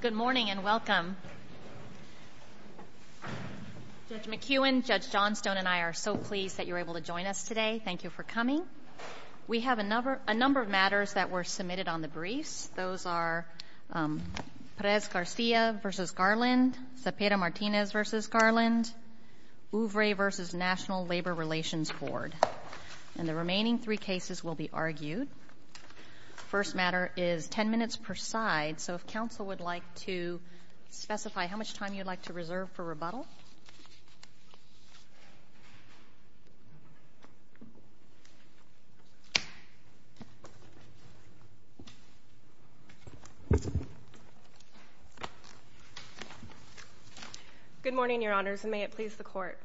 Good morning and welcome. Judge McEwen, Judge Johnstone, and I are so pleased that you're able to join us today. Thank you for coming. We have a number of matters that were submitted on the briefs. Those are Perez-Garcia v. Garland, Zepeda-Martinez v. Garland, Ouvray v. National Labor Relations Board. And the remaining three cases will be argued. First matter is 10 minutes per side. So if counsel would like to specify how much time you'd like to reserve for rebuttal. Good morning, Your Honors, and may it please the Court.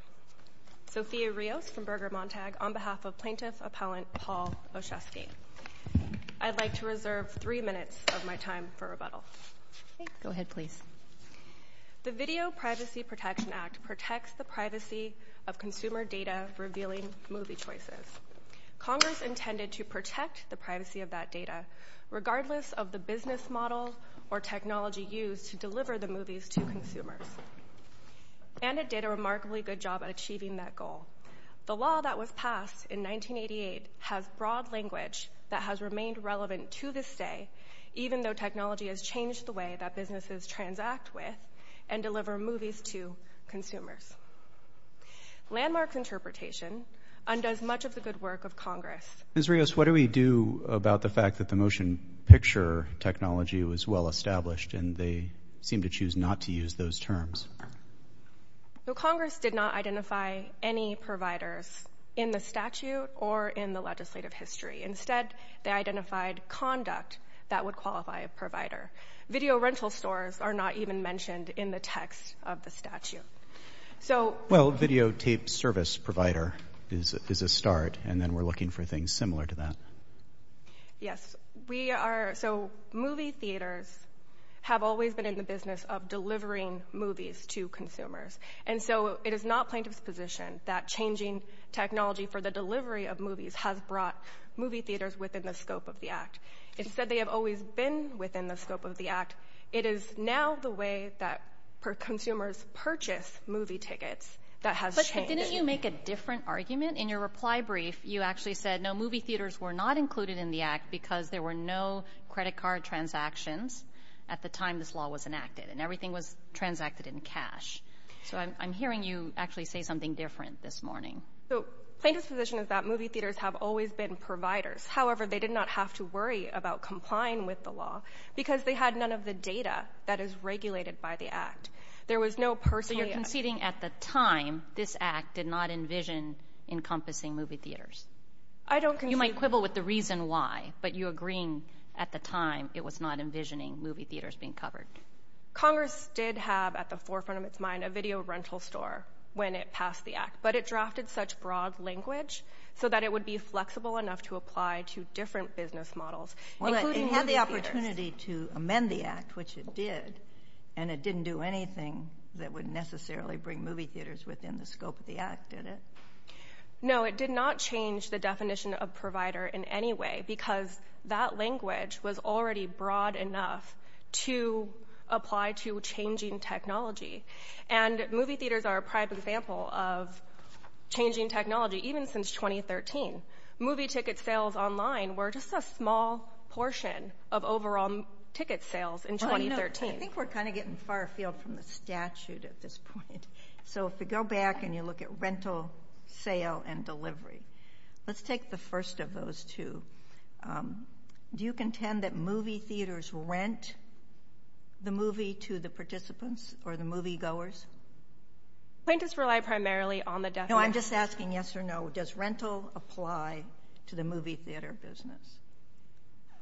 Sophia Rios from Berger Montag on behalf of Plaintiff Appellant Paul Osheske. I'd like to reserve three minutes of my time for rebuttal. Go ahead, please. The Video Privacy Protection Act protects the privacy of consumer data revealing movie choices. Congress intended to protect the privacy of that data regardless of the business model or technology used to deliver the movies to consumers. And it did a remarkably good job at achieving that goal. The law that was passed in 1988 has broad language that has remained relevant to this day, even though technology has changed the way that businesses transact with and deliver movies to consumers. Landmark interpretation undoes much of the good work of Congress. Ms. Rios, what do we do about the fact that the motion picture technology was well established and they seem to choose not to use those terms? Congress did not identify any providers in the statute or in the legislative history. Instead, they identified conduct that would qualify a provider. Video rental stores are not even mentioned in the text of the statute. Well, videotape service provider is a start, and then we're looking for things similar to that. Yes, we are. So, movie theaters have always been in the business of delivering movies to consumers. And so, it is not plaintiff's position that changing technology for the delivery of movies has brought movie theaters within the scope of the Act. Instead, they have always been within the scope of the Act. It is now the way that consumers purchase movie tickets that has changed. But didn't you make a different argument in your reply brief? You actually said, no, movie theaters were not included in the Act because there were no credit card transactions at the time this law was enacted, and everything was transacted in cash. So, I'm hearing you actually say something different this morning. So, plaintiff's position is that movie theaters have always been providers. However, they did not have to worry about complying with the law because they had none of the data that is regulated by the Act. There was no personal... So, you're conceding at the time this Act did not envision encompassing movie theaters. I don't concede... You might quibble with the reason why, but you're agreeing at the time it was not envisioning movie theaters being covered. Congress did have at the forefront of its mind a video rental store when it passed the Act, but it drafted such broad language so that it would be flexible enough to apply to different business models, including movie theaters. Well, it had the opportunity to amend the Act, which it did, and it didn't do anything that would necessarily bring movie theaters within the scope of the Act, did it? No, it did not change the definition of provider in any way because that language was already broad enough to apply to changing technology. And movie theaters are a prime example of changing technology, even since 2013. Movie ticket sales online were just a small portion of overall ticket sales in 2013. I think we're kind of getting far afield from the statute at this point. So, if we go back and you look at rental, sale, and delivery, let's take the first of those two. Do you contend that movie theaters rent the movie to the participants or the moviegoers? Plaintiffs rely primarily on the definition... No, I'm just asking yes or no. Does rental apply to the movie theater business?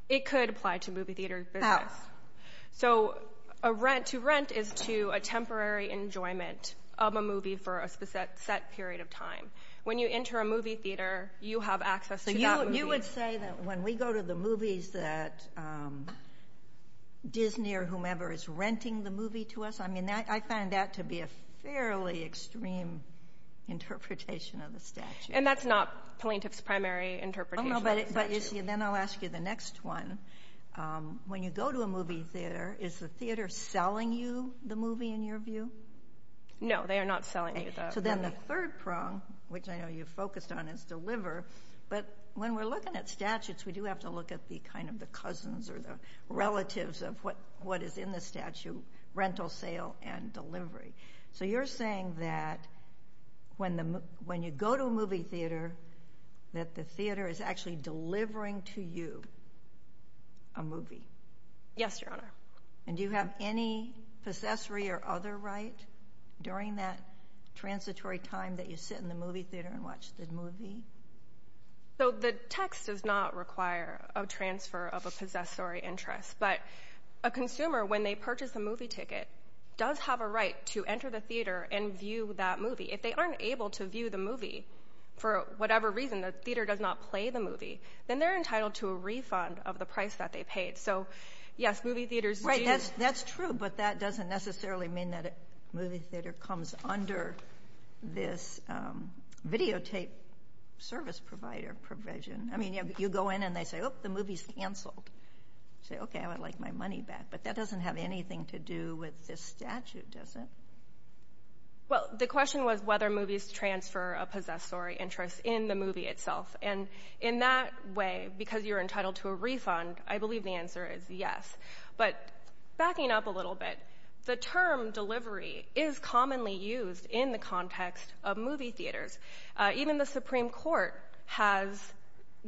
It could apply to movie theater business. How? So, to rent is to a temporary enjoyment of a movie for a set period of time. When you enter a movie theater, you have access to that movie. So, you would say that when we go to the movies that Disney or whomever is renting the movie to us, I mean, I find that to be a fairly extreme interpretation of the statute. And that's not plaintiff's primary interpretation of the statute. Then I'll ask you the next one. When you go to a movie theater, is the theater selling you the movie in your view? No, they are not selling you the movie. So, then the third prong, which I know you focused on, is deliver. But when we're looking at statutes, we do have to look at the cousins or the relatives of what is in the statute, rental, sale, and delivery. So, you're saying that when you go to a movie theater that the theater is actually delivering to you a movie. Yes, Your Honor. And do you have any possessory or other right during that transitory time that you sit in the movie theater and watch the movie? So, the text does not require a transfer of a possessory interest. But a consumer, when they purchase a movie ticket, does have a right to enter the theater and view that movie. If they aren't able to view the movie for whatever reason, the theater does not play the movie, then they're entitled to a refund of the price that they paid. So, yes, movie theaters do. That's true, but that doesn't necessarily mean that a movie theater comes under this videotape service provider provision. I mean, you go in and they say, oh, the movie's canceled. You say, okay, I would like my money back. But that doesn't have anything to do with this statute, does it? Well, the question was whether movies transfer a possessory interest in the movie itself. And in that way, because you're entitled to a refund, I believe the answer is yes. But backing up a little bit, the term delivery is commonly used in the context of movie theaters. Even the Supreme Court has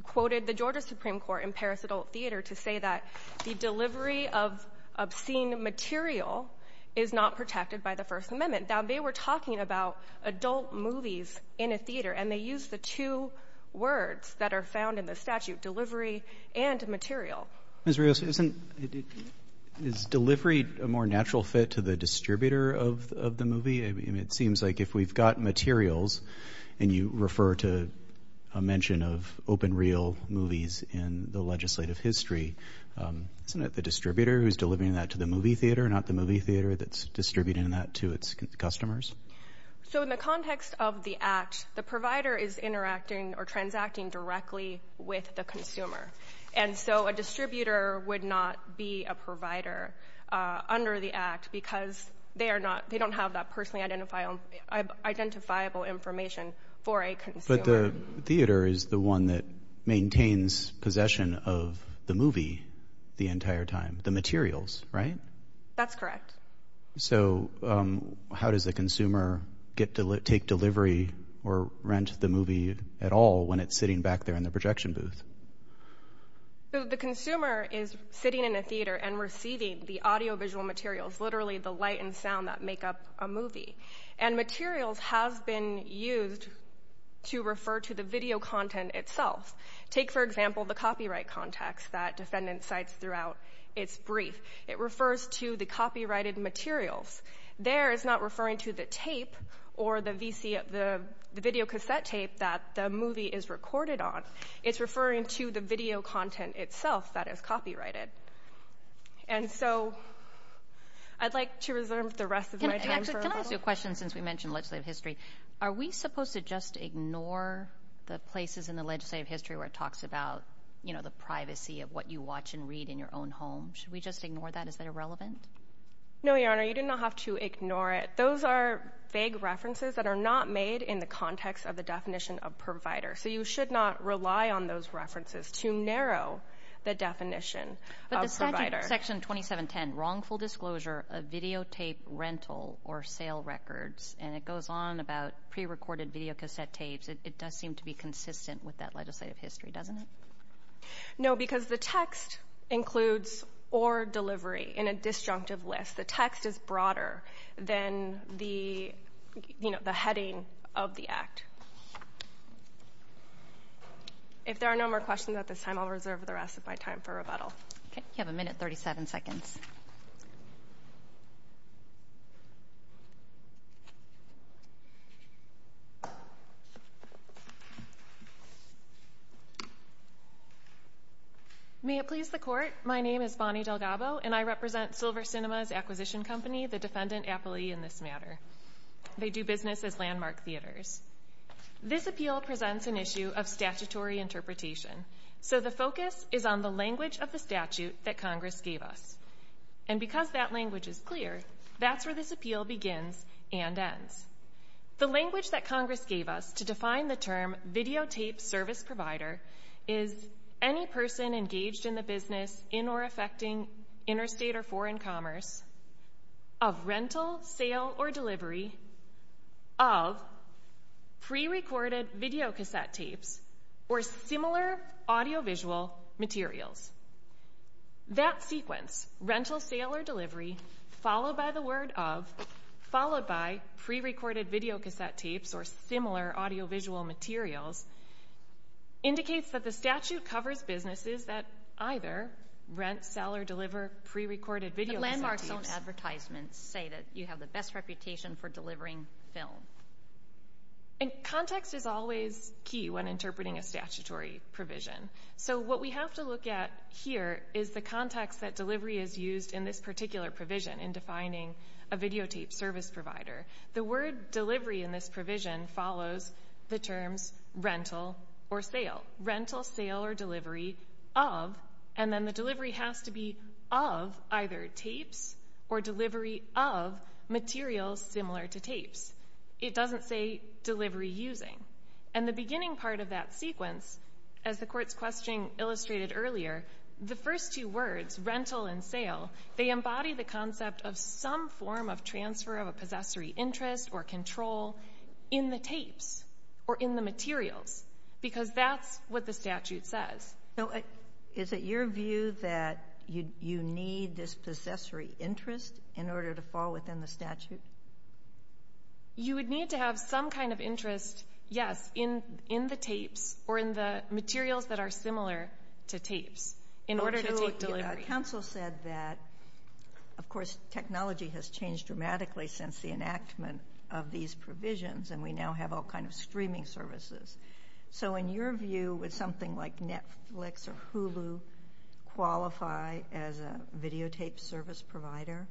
quoted the Georgia Supreme Court in Paris Adult Theater to say that the delivery of obscene material is not protected by the First Amendment. Now, they were talking about adult movies in a theater, and they used the two words that are found in the statute, delivery and material. Ms. Rios, isn't, is delivery a more natural fit to the distributor of the movie? I mean, it seems like if we've got materials, and you refer to a mention of open reel movies in the legislative history, isn't it the distributor who's delivering that to the movie theater, not the movie theater that's distributing that to its customers? So in the context of the act, the provider is interacting or transacting directly with the consumer. And so a distributor would not be a provider under the act because they are not, they don't have that personally identifiable information for a consumer. But the theater is the one that maintains possession of the movie the entire time, the materials, right? That's correct. So how does the consumer get to take delivery or rent the movie at all when it's sitting back there in the projection booth? The consumer is sitting in a theater and receiving the audiovisual materials, literally the light and sound that make up a movie. And materials have been used to refer to the video content itself. Take, for example, the copyright context that defendant cites throughout its brief. It refers to the copyrighted materials. There it's not referring to the tape or the video cassette tape that the movie is recorded on. It's referring to the video content itself that is copyrighted. And so I'd like to reserve the rest of my time for a moment. I have a question since we mentioned legislative history. Are we supposed to just ignore the places in the legislative history where it talks about the privacy of what you watch and read in your own home? Should we just ignore that? Is that irrelevant? No, Your Honor. You do not have to ignore it. Those are vague references that are not made in the context of the definition of provider. So you should not rely on those references to narrow the definition of provider. But the statute, Section 2710, gives a wrongful disclosure of videotape rental or sale records. And it goes on about prerecorded videocassette tapes. It does seem to be consistent with that legislative history, doesn't it? No, because the text includes or delivery in a disjunctive list. The text is broader than the heading of the Act. If there are no more questions at this time, I'll reserve the rest of my time for rebuttal. Okay. You have a minute and 37 seconds. May it please the Court, my name is Bonnie Delgabo and I represent Silver Cinemas Acquisition Company, the defendant aptly in this matter. They do business as landmark theaters. This appeal presents an issue of statutory interpretation. So the focus is on the language of the statute that Congress gave us. And because that language is clear, that's where this appeal begins and ends. The language that Congress gave us to define the term videotape service provider is any person engaged in the business in or affecting interstate or foreign commerce of rental, sale, or delivery of prerecorded videocassette tapes or similar audiovisual materials. That sequence, rental, sale, or delivery followed by the word of, followed by prerecorded videocassette tapes or similar audiovisual materials, indicates that the statute covers businesses that either rent, sell, or deliver prerecorded videocassette tapes. But landmarks don't advertisements say that you have the best reputation for delivering film. And context is always key when interpreting a statutory provision. So what we have to look at here is the context that delivery is used in this particular provision in defining a videotape service provider. The word delivery in this provision follows the terms rental or sale. Rental, sale, or delivery of, and then the delivery has to be of either tapes or delivery of materials similar to tapes. It doesn't say delivery using. And the beginning part of that sequence, as the Court's question illustrated earlier, the first two words, rental and sale, they embody the concept of some form of transfer of a possessory interest or control in the tapes or in the materials because that's what the statute says. So is it your view that you need this possessory interest in order to fall within the statute? You would need to have some kind of interest, yes, in the tapes or in the materials that are similar to tapes in order to take delivery. Council said that, of course, technology has changed dramatically since the enactment of these provisions and we now have all kinds of streaming services. So in your view, would something like Netflix or Hulu qualify as a videotape service provider?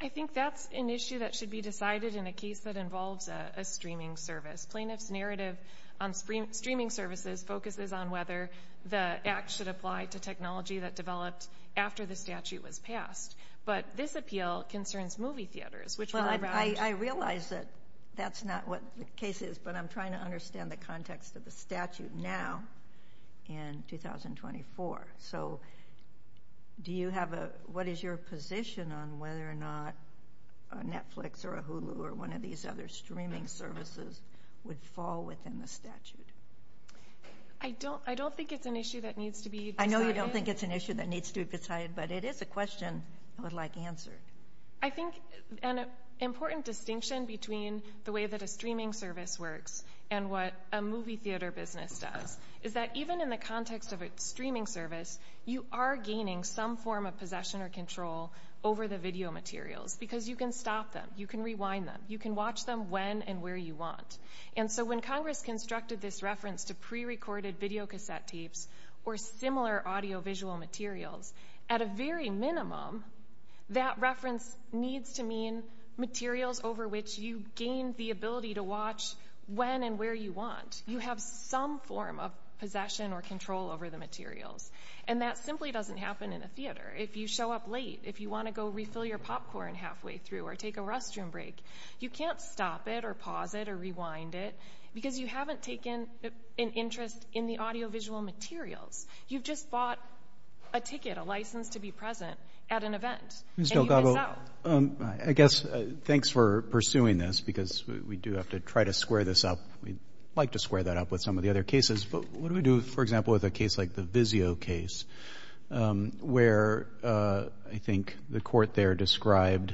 I think that's an issue that should be decided in a case that involves a streaming service. Plaintiff's narrative on streaming services focuses on whether the act should apply to technology that developed after the statute was passed. But this appeal concerns movie theaters, which were around... Well, I realize that that's not what the case is, but I'm trying to understand the context of the statute now in 2024. So do you have a... What is your position on whether or not a Netflix or a Hulu or one of these other streaming services would fall within the statute? I don't think it's an issue that needs to be decided. I know you don't think it's an issue that needs to be decided, but it is a question I would like answered. I think an important distinction between the way that a streaming service works and what a movie theater business does is that even in the context of a streaming service, you are gaining some form of possession or control over the video materials because you can stop them, you can rewind them, you can watch them when and where you want. And so when Congress constructed this reference to prerecorded videocassette tapes or similar audiovisual materials, at a very minimum, that reference needs to mean materials over which you gain the ability to watch when and where you want. You have some form of possession or control over the materials. And that simply doesn't happen in a theater. If you show up late, if you want to go refill your popcorn halfway through or take a restroom break, you can't stop it or pause it or rewind it because you haven't taken an interest in the audiovisual materials. You've just bought a ticket, a license to be present at an event. And you miss out. Ms. Delgado, I guess, thanks for pursuing this because we do have to try to square this up. We'd like to square that up with some of the other cases. But what do we do, for example, with a case like the Vizio case where I think the court there described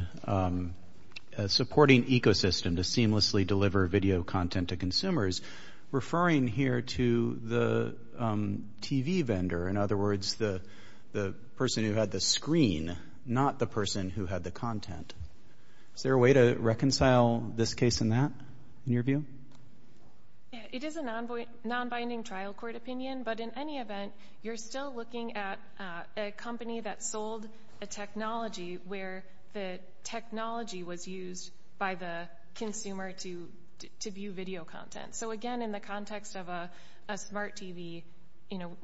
a supporting ecosystem to seamlessly deliver video content to consumers, referring here to the TV vendor. In other words, the person who had the screen, not the person who had the content. Is there a way to reconcile this case and that, in your view? It is a non-binding trial court opinion. But in any event, you're still looking at a company that sold a technology where the technology was used by the consumer to view video content. So again, in the context of a smart TV, you know,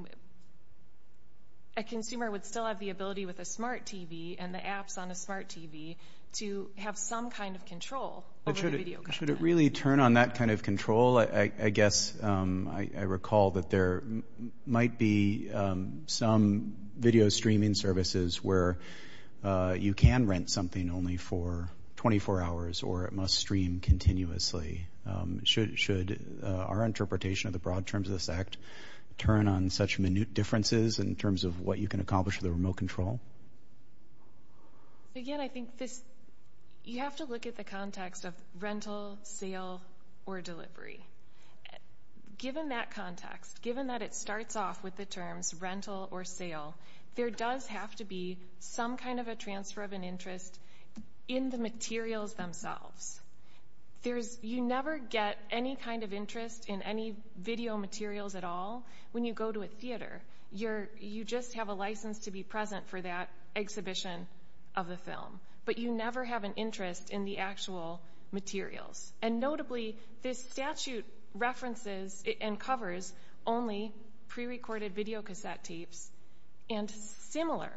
a consumer would still have the ability with a smart TV and the apps on a smart TV to have some kind of control over the video content. Should it really turn on that kind of control? I guess I recall that there might be some video streaming services where you can rent something only for 24 hours or it must stream continuously. Should our interpretation of the broad terms of this act turn on such minute differences in terms of what you can accomplish with a remote control? Again, I think this... You have to look at the context of rental, sale, or delivery. Given that context, given that it starts off with the terms rental or sale, there does have to be some kind of a transfer of an interest in the materials themselves. You never get any kind of interest in any video materials at all when you go to a theater. You just have a license to be present for that exhibition of the film. But you never have an interest in the actual materials. And notably, this statute references and covers only prerecorded videocassette tapes and similar,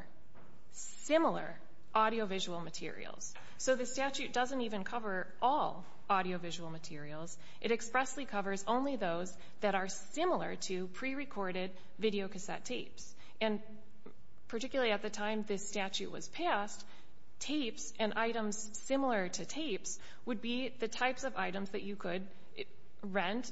similar audiovisual materials. So the statute doesn't even cover all audiovisual materials. It expressly covers only those that are similar to prerecorded videocassette tapes. And particularly at the time this statute was passed, tapes and items similar to tapes would be the types of items that you could rent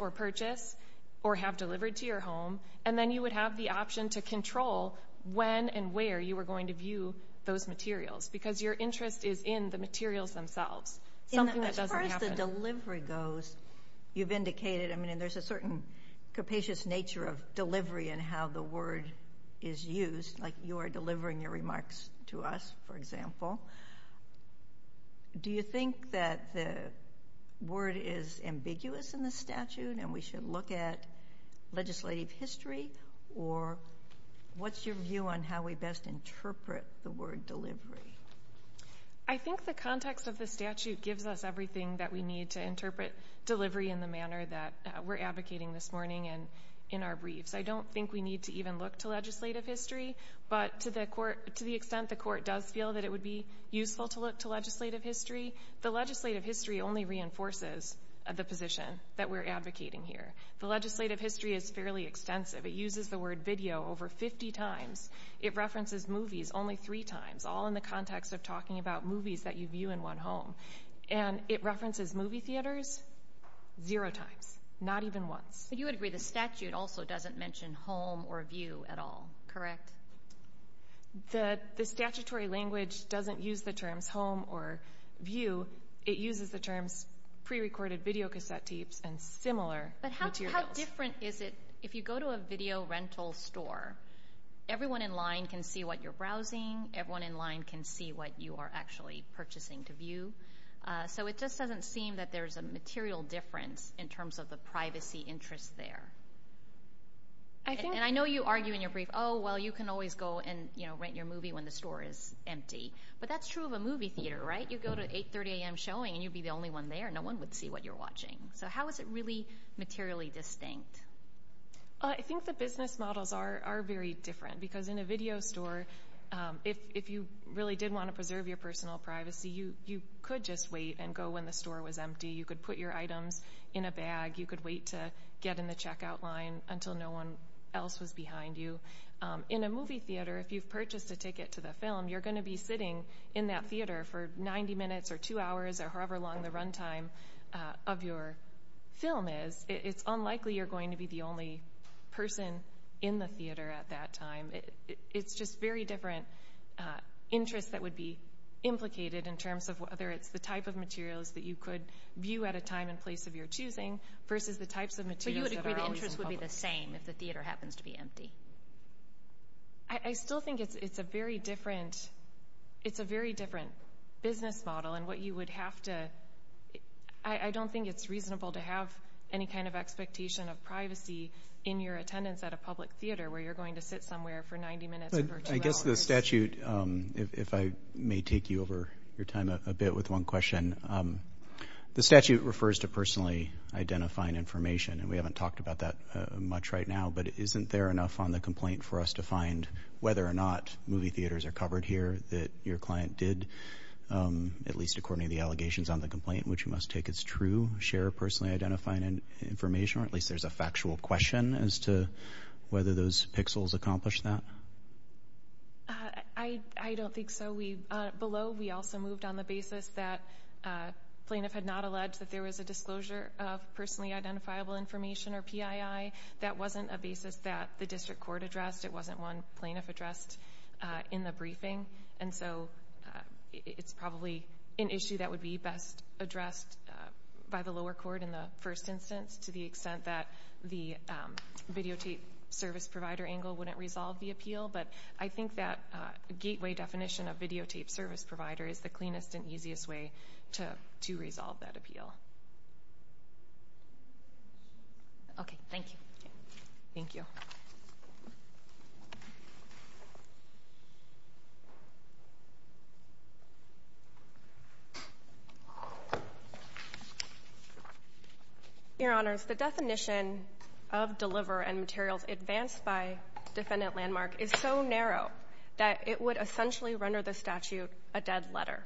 or purchase or have delivered to your home. And then you would have the option to control when and where you were going to view those materials. Because your interest is in the materials themselves. Something that doesn't happen. As far as the delivery goes, you've indicated... I mean, there's a certain capacious nature of delivery and how the word is used. Like you are delivering your remarks to us, for example. Do you think that the word is ambiguous in the statute and we should look at legislative history? Or what's your view on how we best interpret the word delivery? I think the context of the statute gives us everything that we need to interpret delivery in the manner that we're advocating this morning and in our briefs. I don't think we need to even look to legislative history. But to the extent the court does feel that it would be useful to look to legislative history, the legislative history only reinforces the position that we're advocating here. The legislative history is fairly extensive. It uses the word video over 50 times. It references movies only three times. All in the context of talking about movies that you view in one home. And it references movie theaters zero times. Not even once. But you would agree the statute also doesn't mention home or view at all, correct? The statutory language doesn't use the terms home or view. It uses the terms pre-recorded video cassette tapes and similar materials. But how different is it, if you go to a video rental store, everyone in line can see what you're browsing. Everyone in line can see what you are actually purchasing to view. So it just doesn't seem that there's a material difference in terms of the privacy interest there. And I know you argue in your brief, oh, well, you can always go and rent your movie when the store is empty. But that's true of a movie theater, right? You go to 8.30 a.m. showing, and you'd be the only one there. No one would see what you're watching. So how is it really materially distinct? I think the business models are very different. Because in a video store, if you really did want to preserve your personal privacy, you could just wait and go when the store was empty. You could put your items in a bag. You could wait to get in the checkout line until no one else was behind you. In a movie theater, if you've purchased a ticket to the film, you're going to be sitting in that theater for 90 minutes or two hours or however long the runtime of your film is. It's unlikely you're going to be the only person in the theater at that time. It's just very different interests that would be implicated in terms of whether it's the type of materials that you could view at a time and place of your choosing versus the types of materials... But you would agree the interest would be the same if the theater happens to be empty? I still think it's a very different business model. I don't think it's reasonable to have any kind of expectation of privacy in your attendance at a public theater where you're going to sit somewhere for 90 minutes or two hours. I guess the statute, if I may take you over your time a bit with one question, the statute refers to personally identifying information, and we haven't talked about that much right now, but isn't there enough on the complaint for us to find whether or not movie theaters are covered here that your client did, at least according to the allegations on the complaint, which you must take as true, share personally identifying information, or at least there's a factual question as to whether those pixels accomplish that? I don't think so. Below, we also moved on the basis that plaintiff had not alleged that there was a disclosure of personally identifiable information, or PII. That wasn't a basis that the district court addressed. It wasn't one plaintiff addressed in the briefing, and so it's probably an issue that would be best addressed by the lower court in the first instance to the extent that the videotape service provider angle wouldn't resolve the appeal, but I think that gateway definition of videotape service provider is the cleanest and easiest way to resolve that appeal. Okay, thank you. Thank you. Your Honors, the definition of deliver and materials advanced by defendant landmark is so narrow that it would essentially render the statute a dead letter,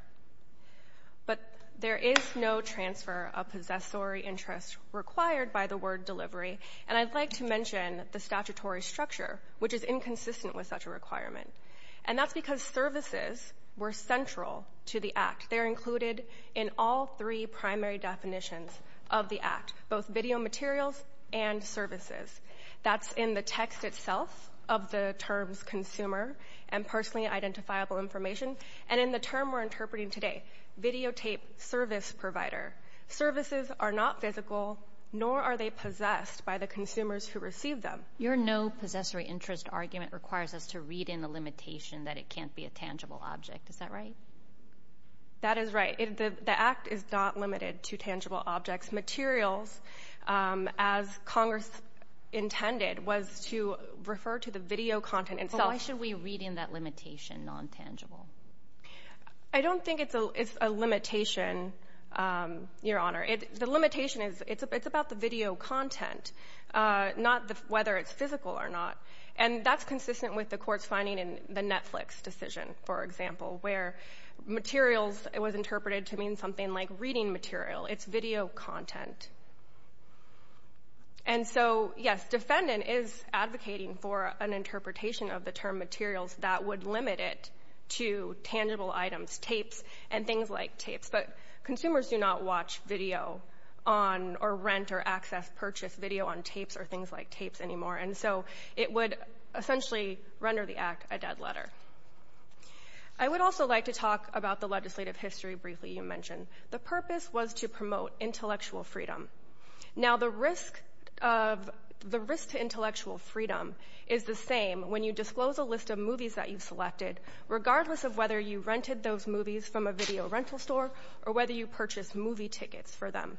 but there is no transfer of possessory interest required by the word delivery, and I'd like to mention the statutory structure, which is inconsistent with such a requirement, and that's because services were central to the act. They're included in all three primary definitions of the act, both video materials and services. That's in the text itself of the terms consumer and personally identifiable information, and in the term we're interpreting today, videotape service provider. Services are not physical, nor are they possessed by the consumers who receive them. Your no possessory interest argument requires us to read in the limitation that it can't be a tangible object. Is that right? That is right. The act is not limited to tangible objects. Materials, as Congress intended, was to refer to the video content itself. Why should we read in that limitation, non-tangible? I don't think it's a limitation, Your Honor. The limitation is it's about the video content, not whether it's physical or not, and that's consistent with the court's finding in the Netflix decision, for example, where materials was interpreted to mean something like reading material. It's video content. And so, yes, defendant is advocating for an interpretation of the term materials that would limit it to tangible items, tapes and things like tapes, but consumers do not watch video on, or rent or access purchase video on tapes or things like tapes anymore, and so it would essentially render the act a dead letter. I would also like to talk about the legislative history briefly you mentioned. The purpose was to promote intellectual freedom. Now, the risk to intellectual freedom is the same when you disclose a list of movies that you've selected, regardless of whether you rented those movies from a video rental store or whether you purchased movie tickets for them.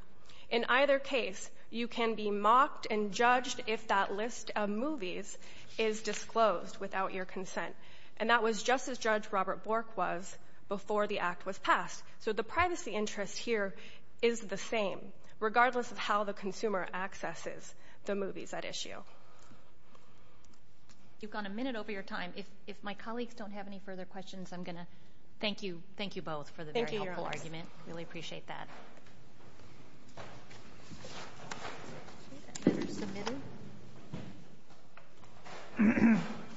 In either case, you can be mocked and judged if that list of movies is disclosed without your consent, and that was just as Judge Robert Bork was before the act was passed. So the privacy interest here is the same, regardless of how the consumer accesses the movies at issue. You've gone a minute over your time. If my colleagues don't have any further questions, I'm going to thank you both for the very helpful argument. Really appreciate that.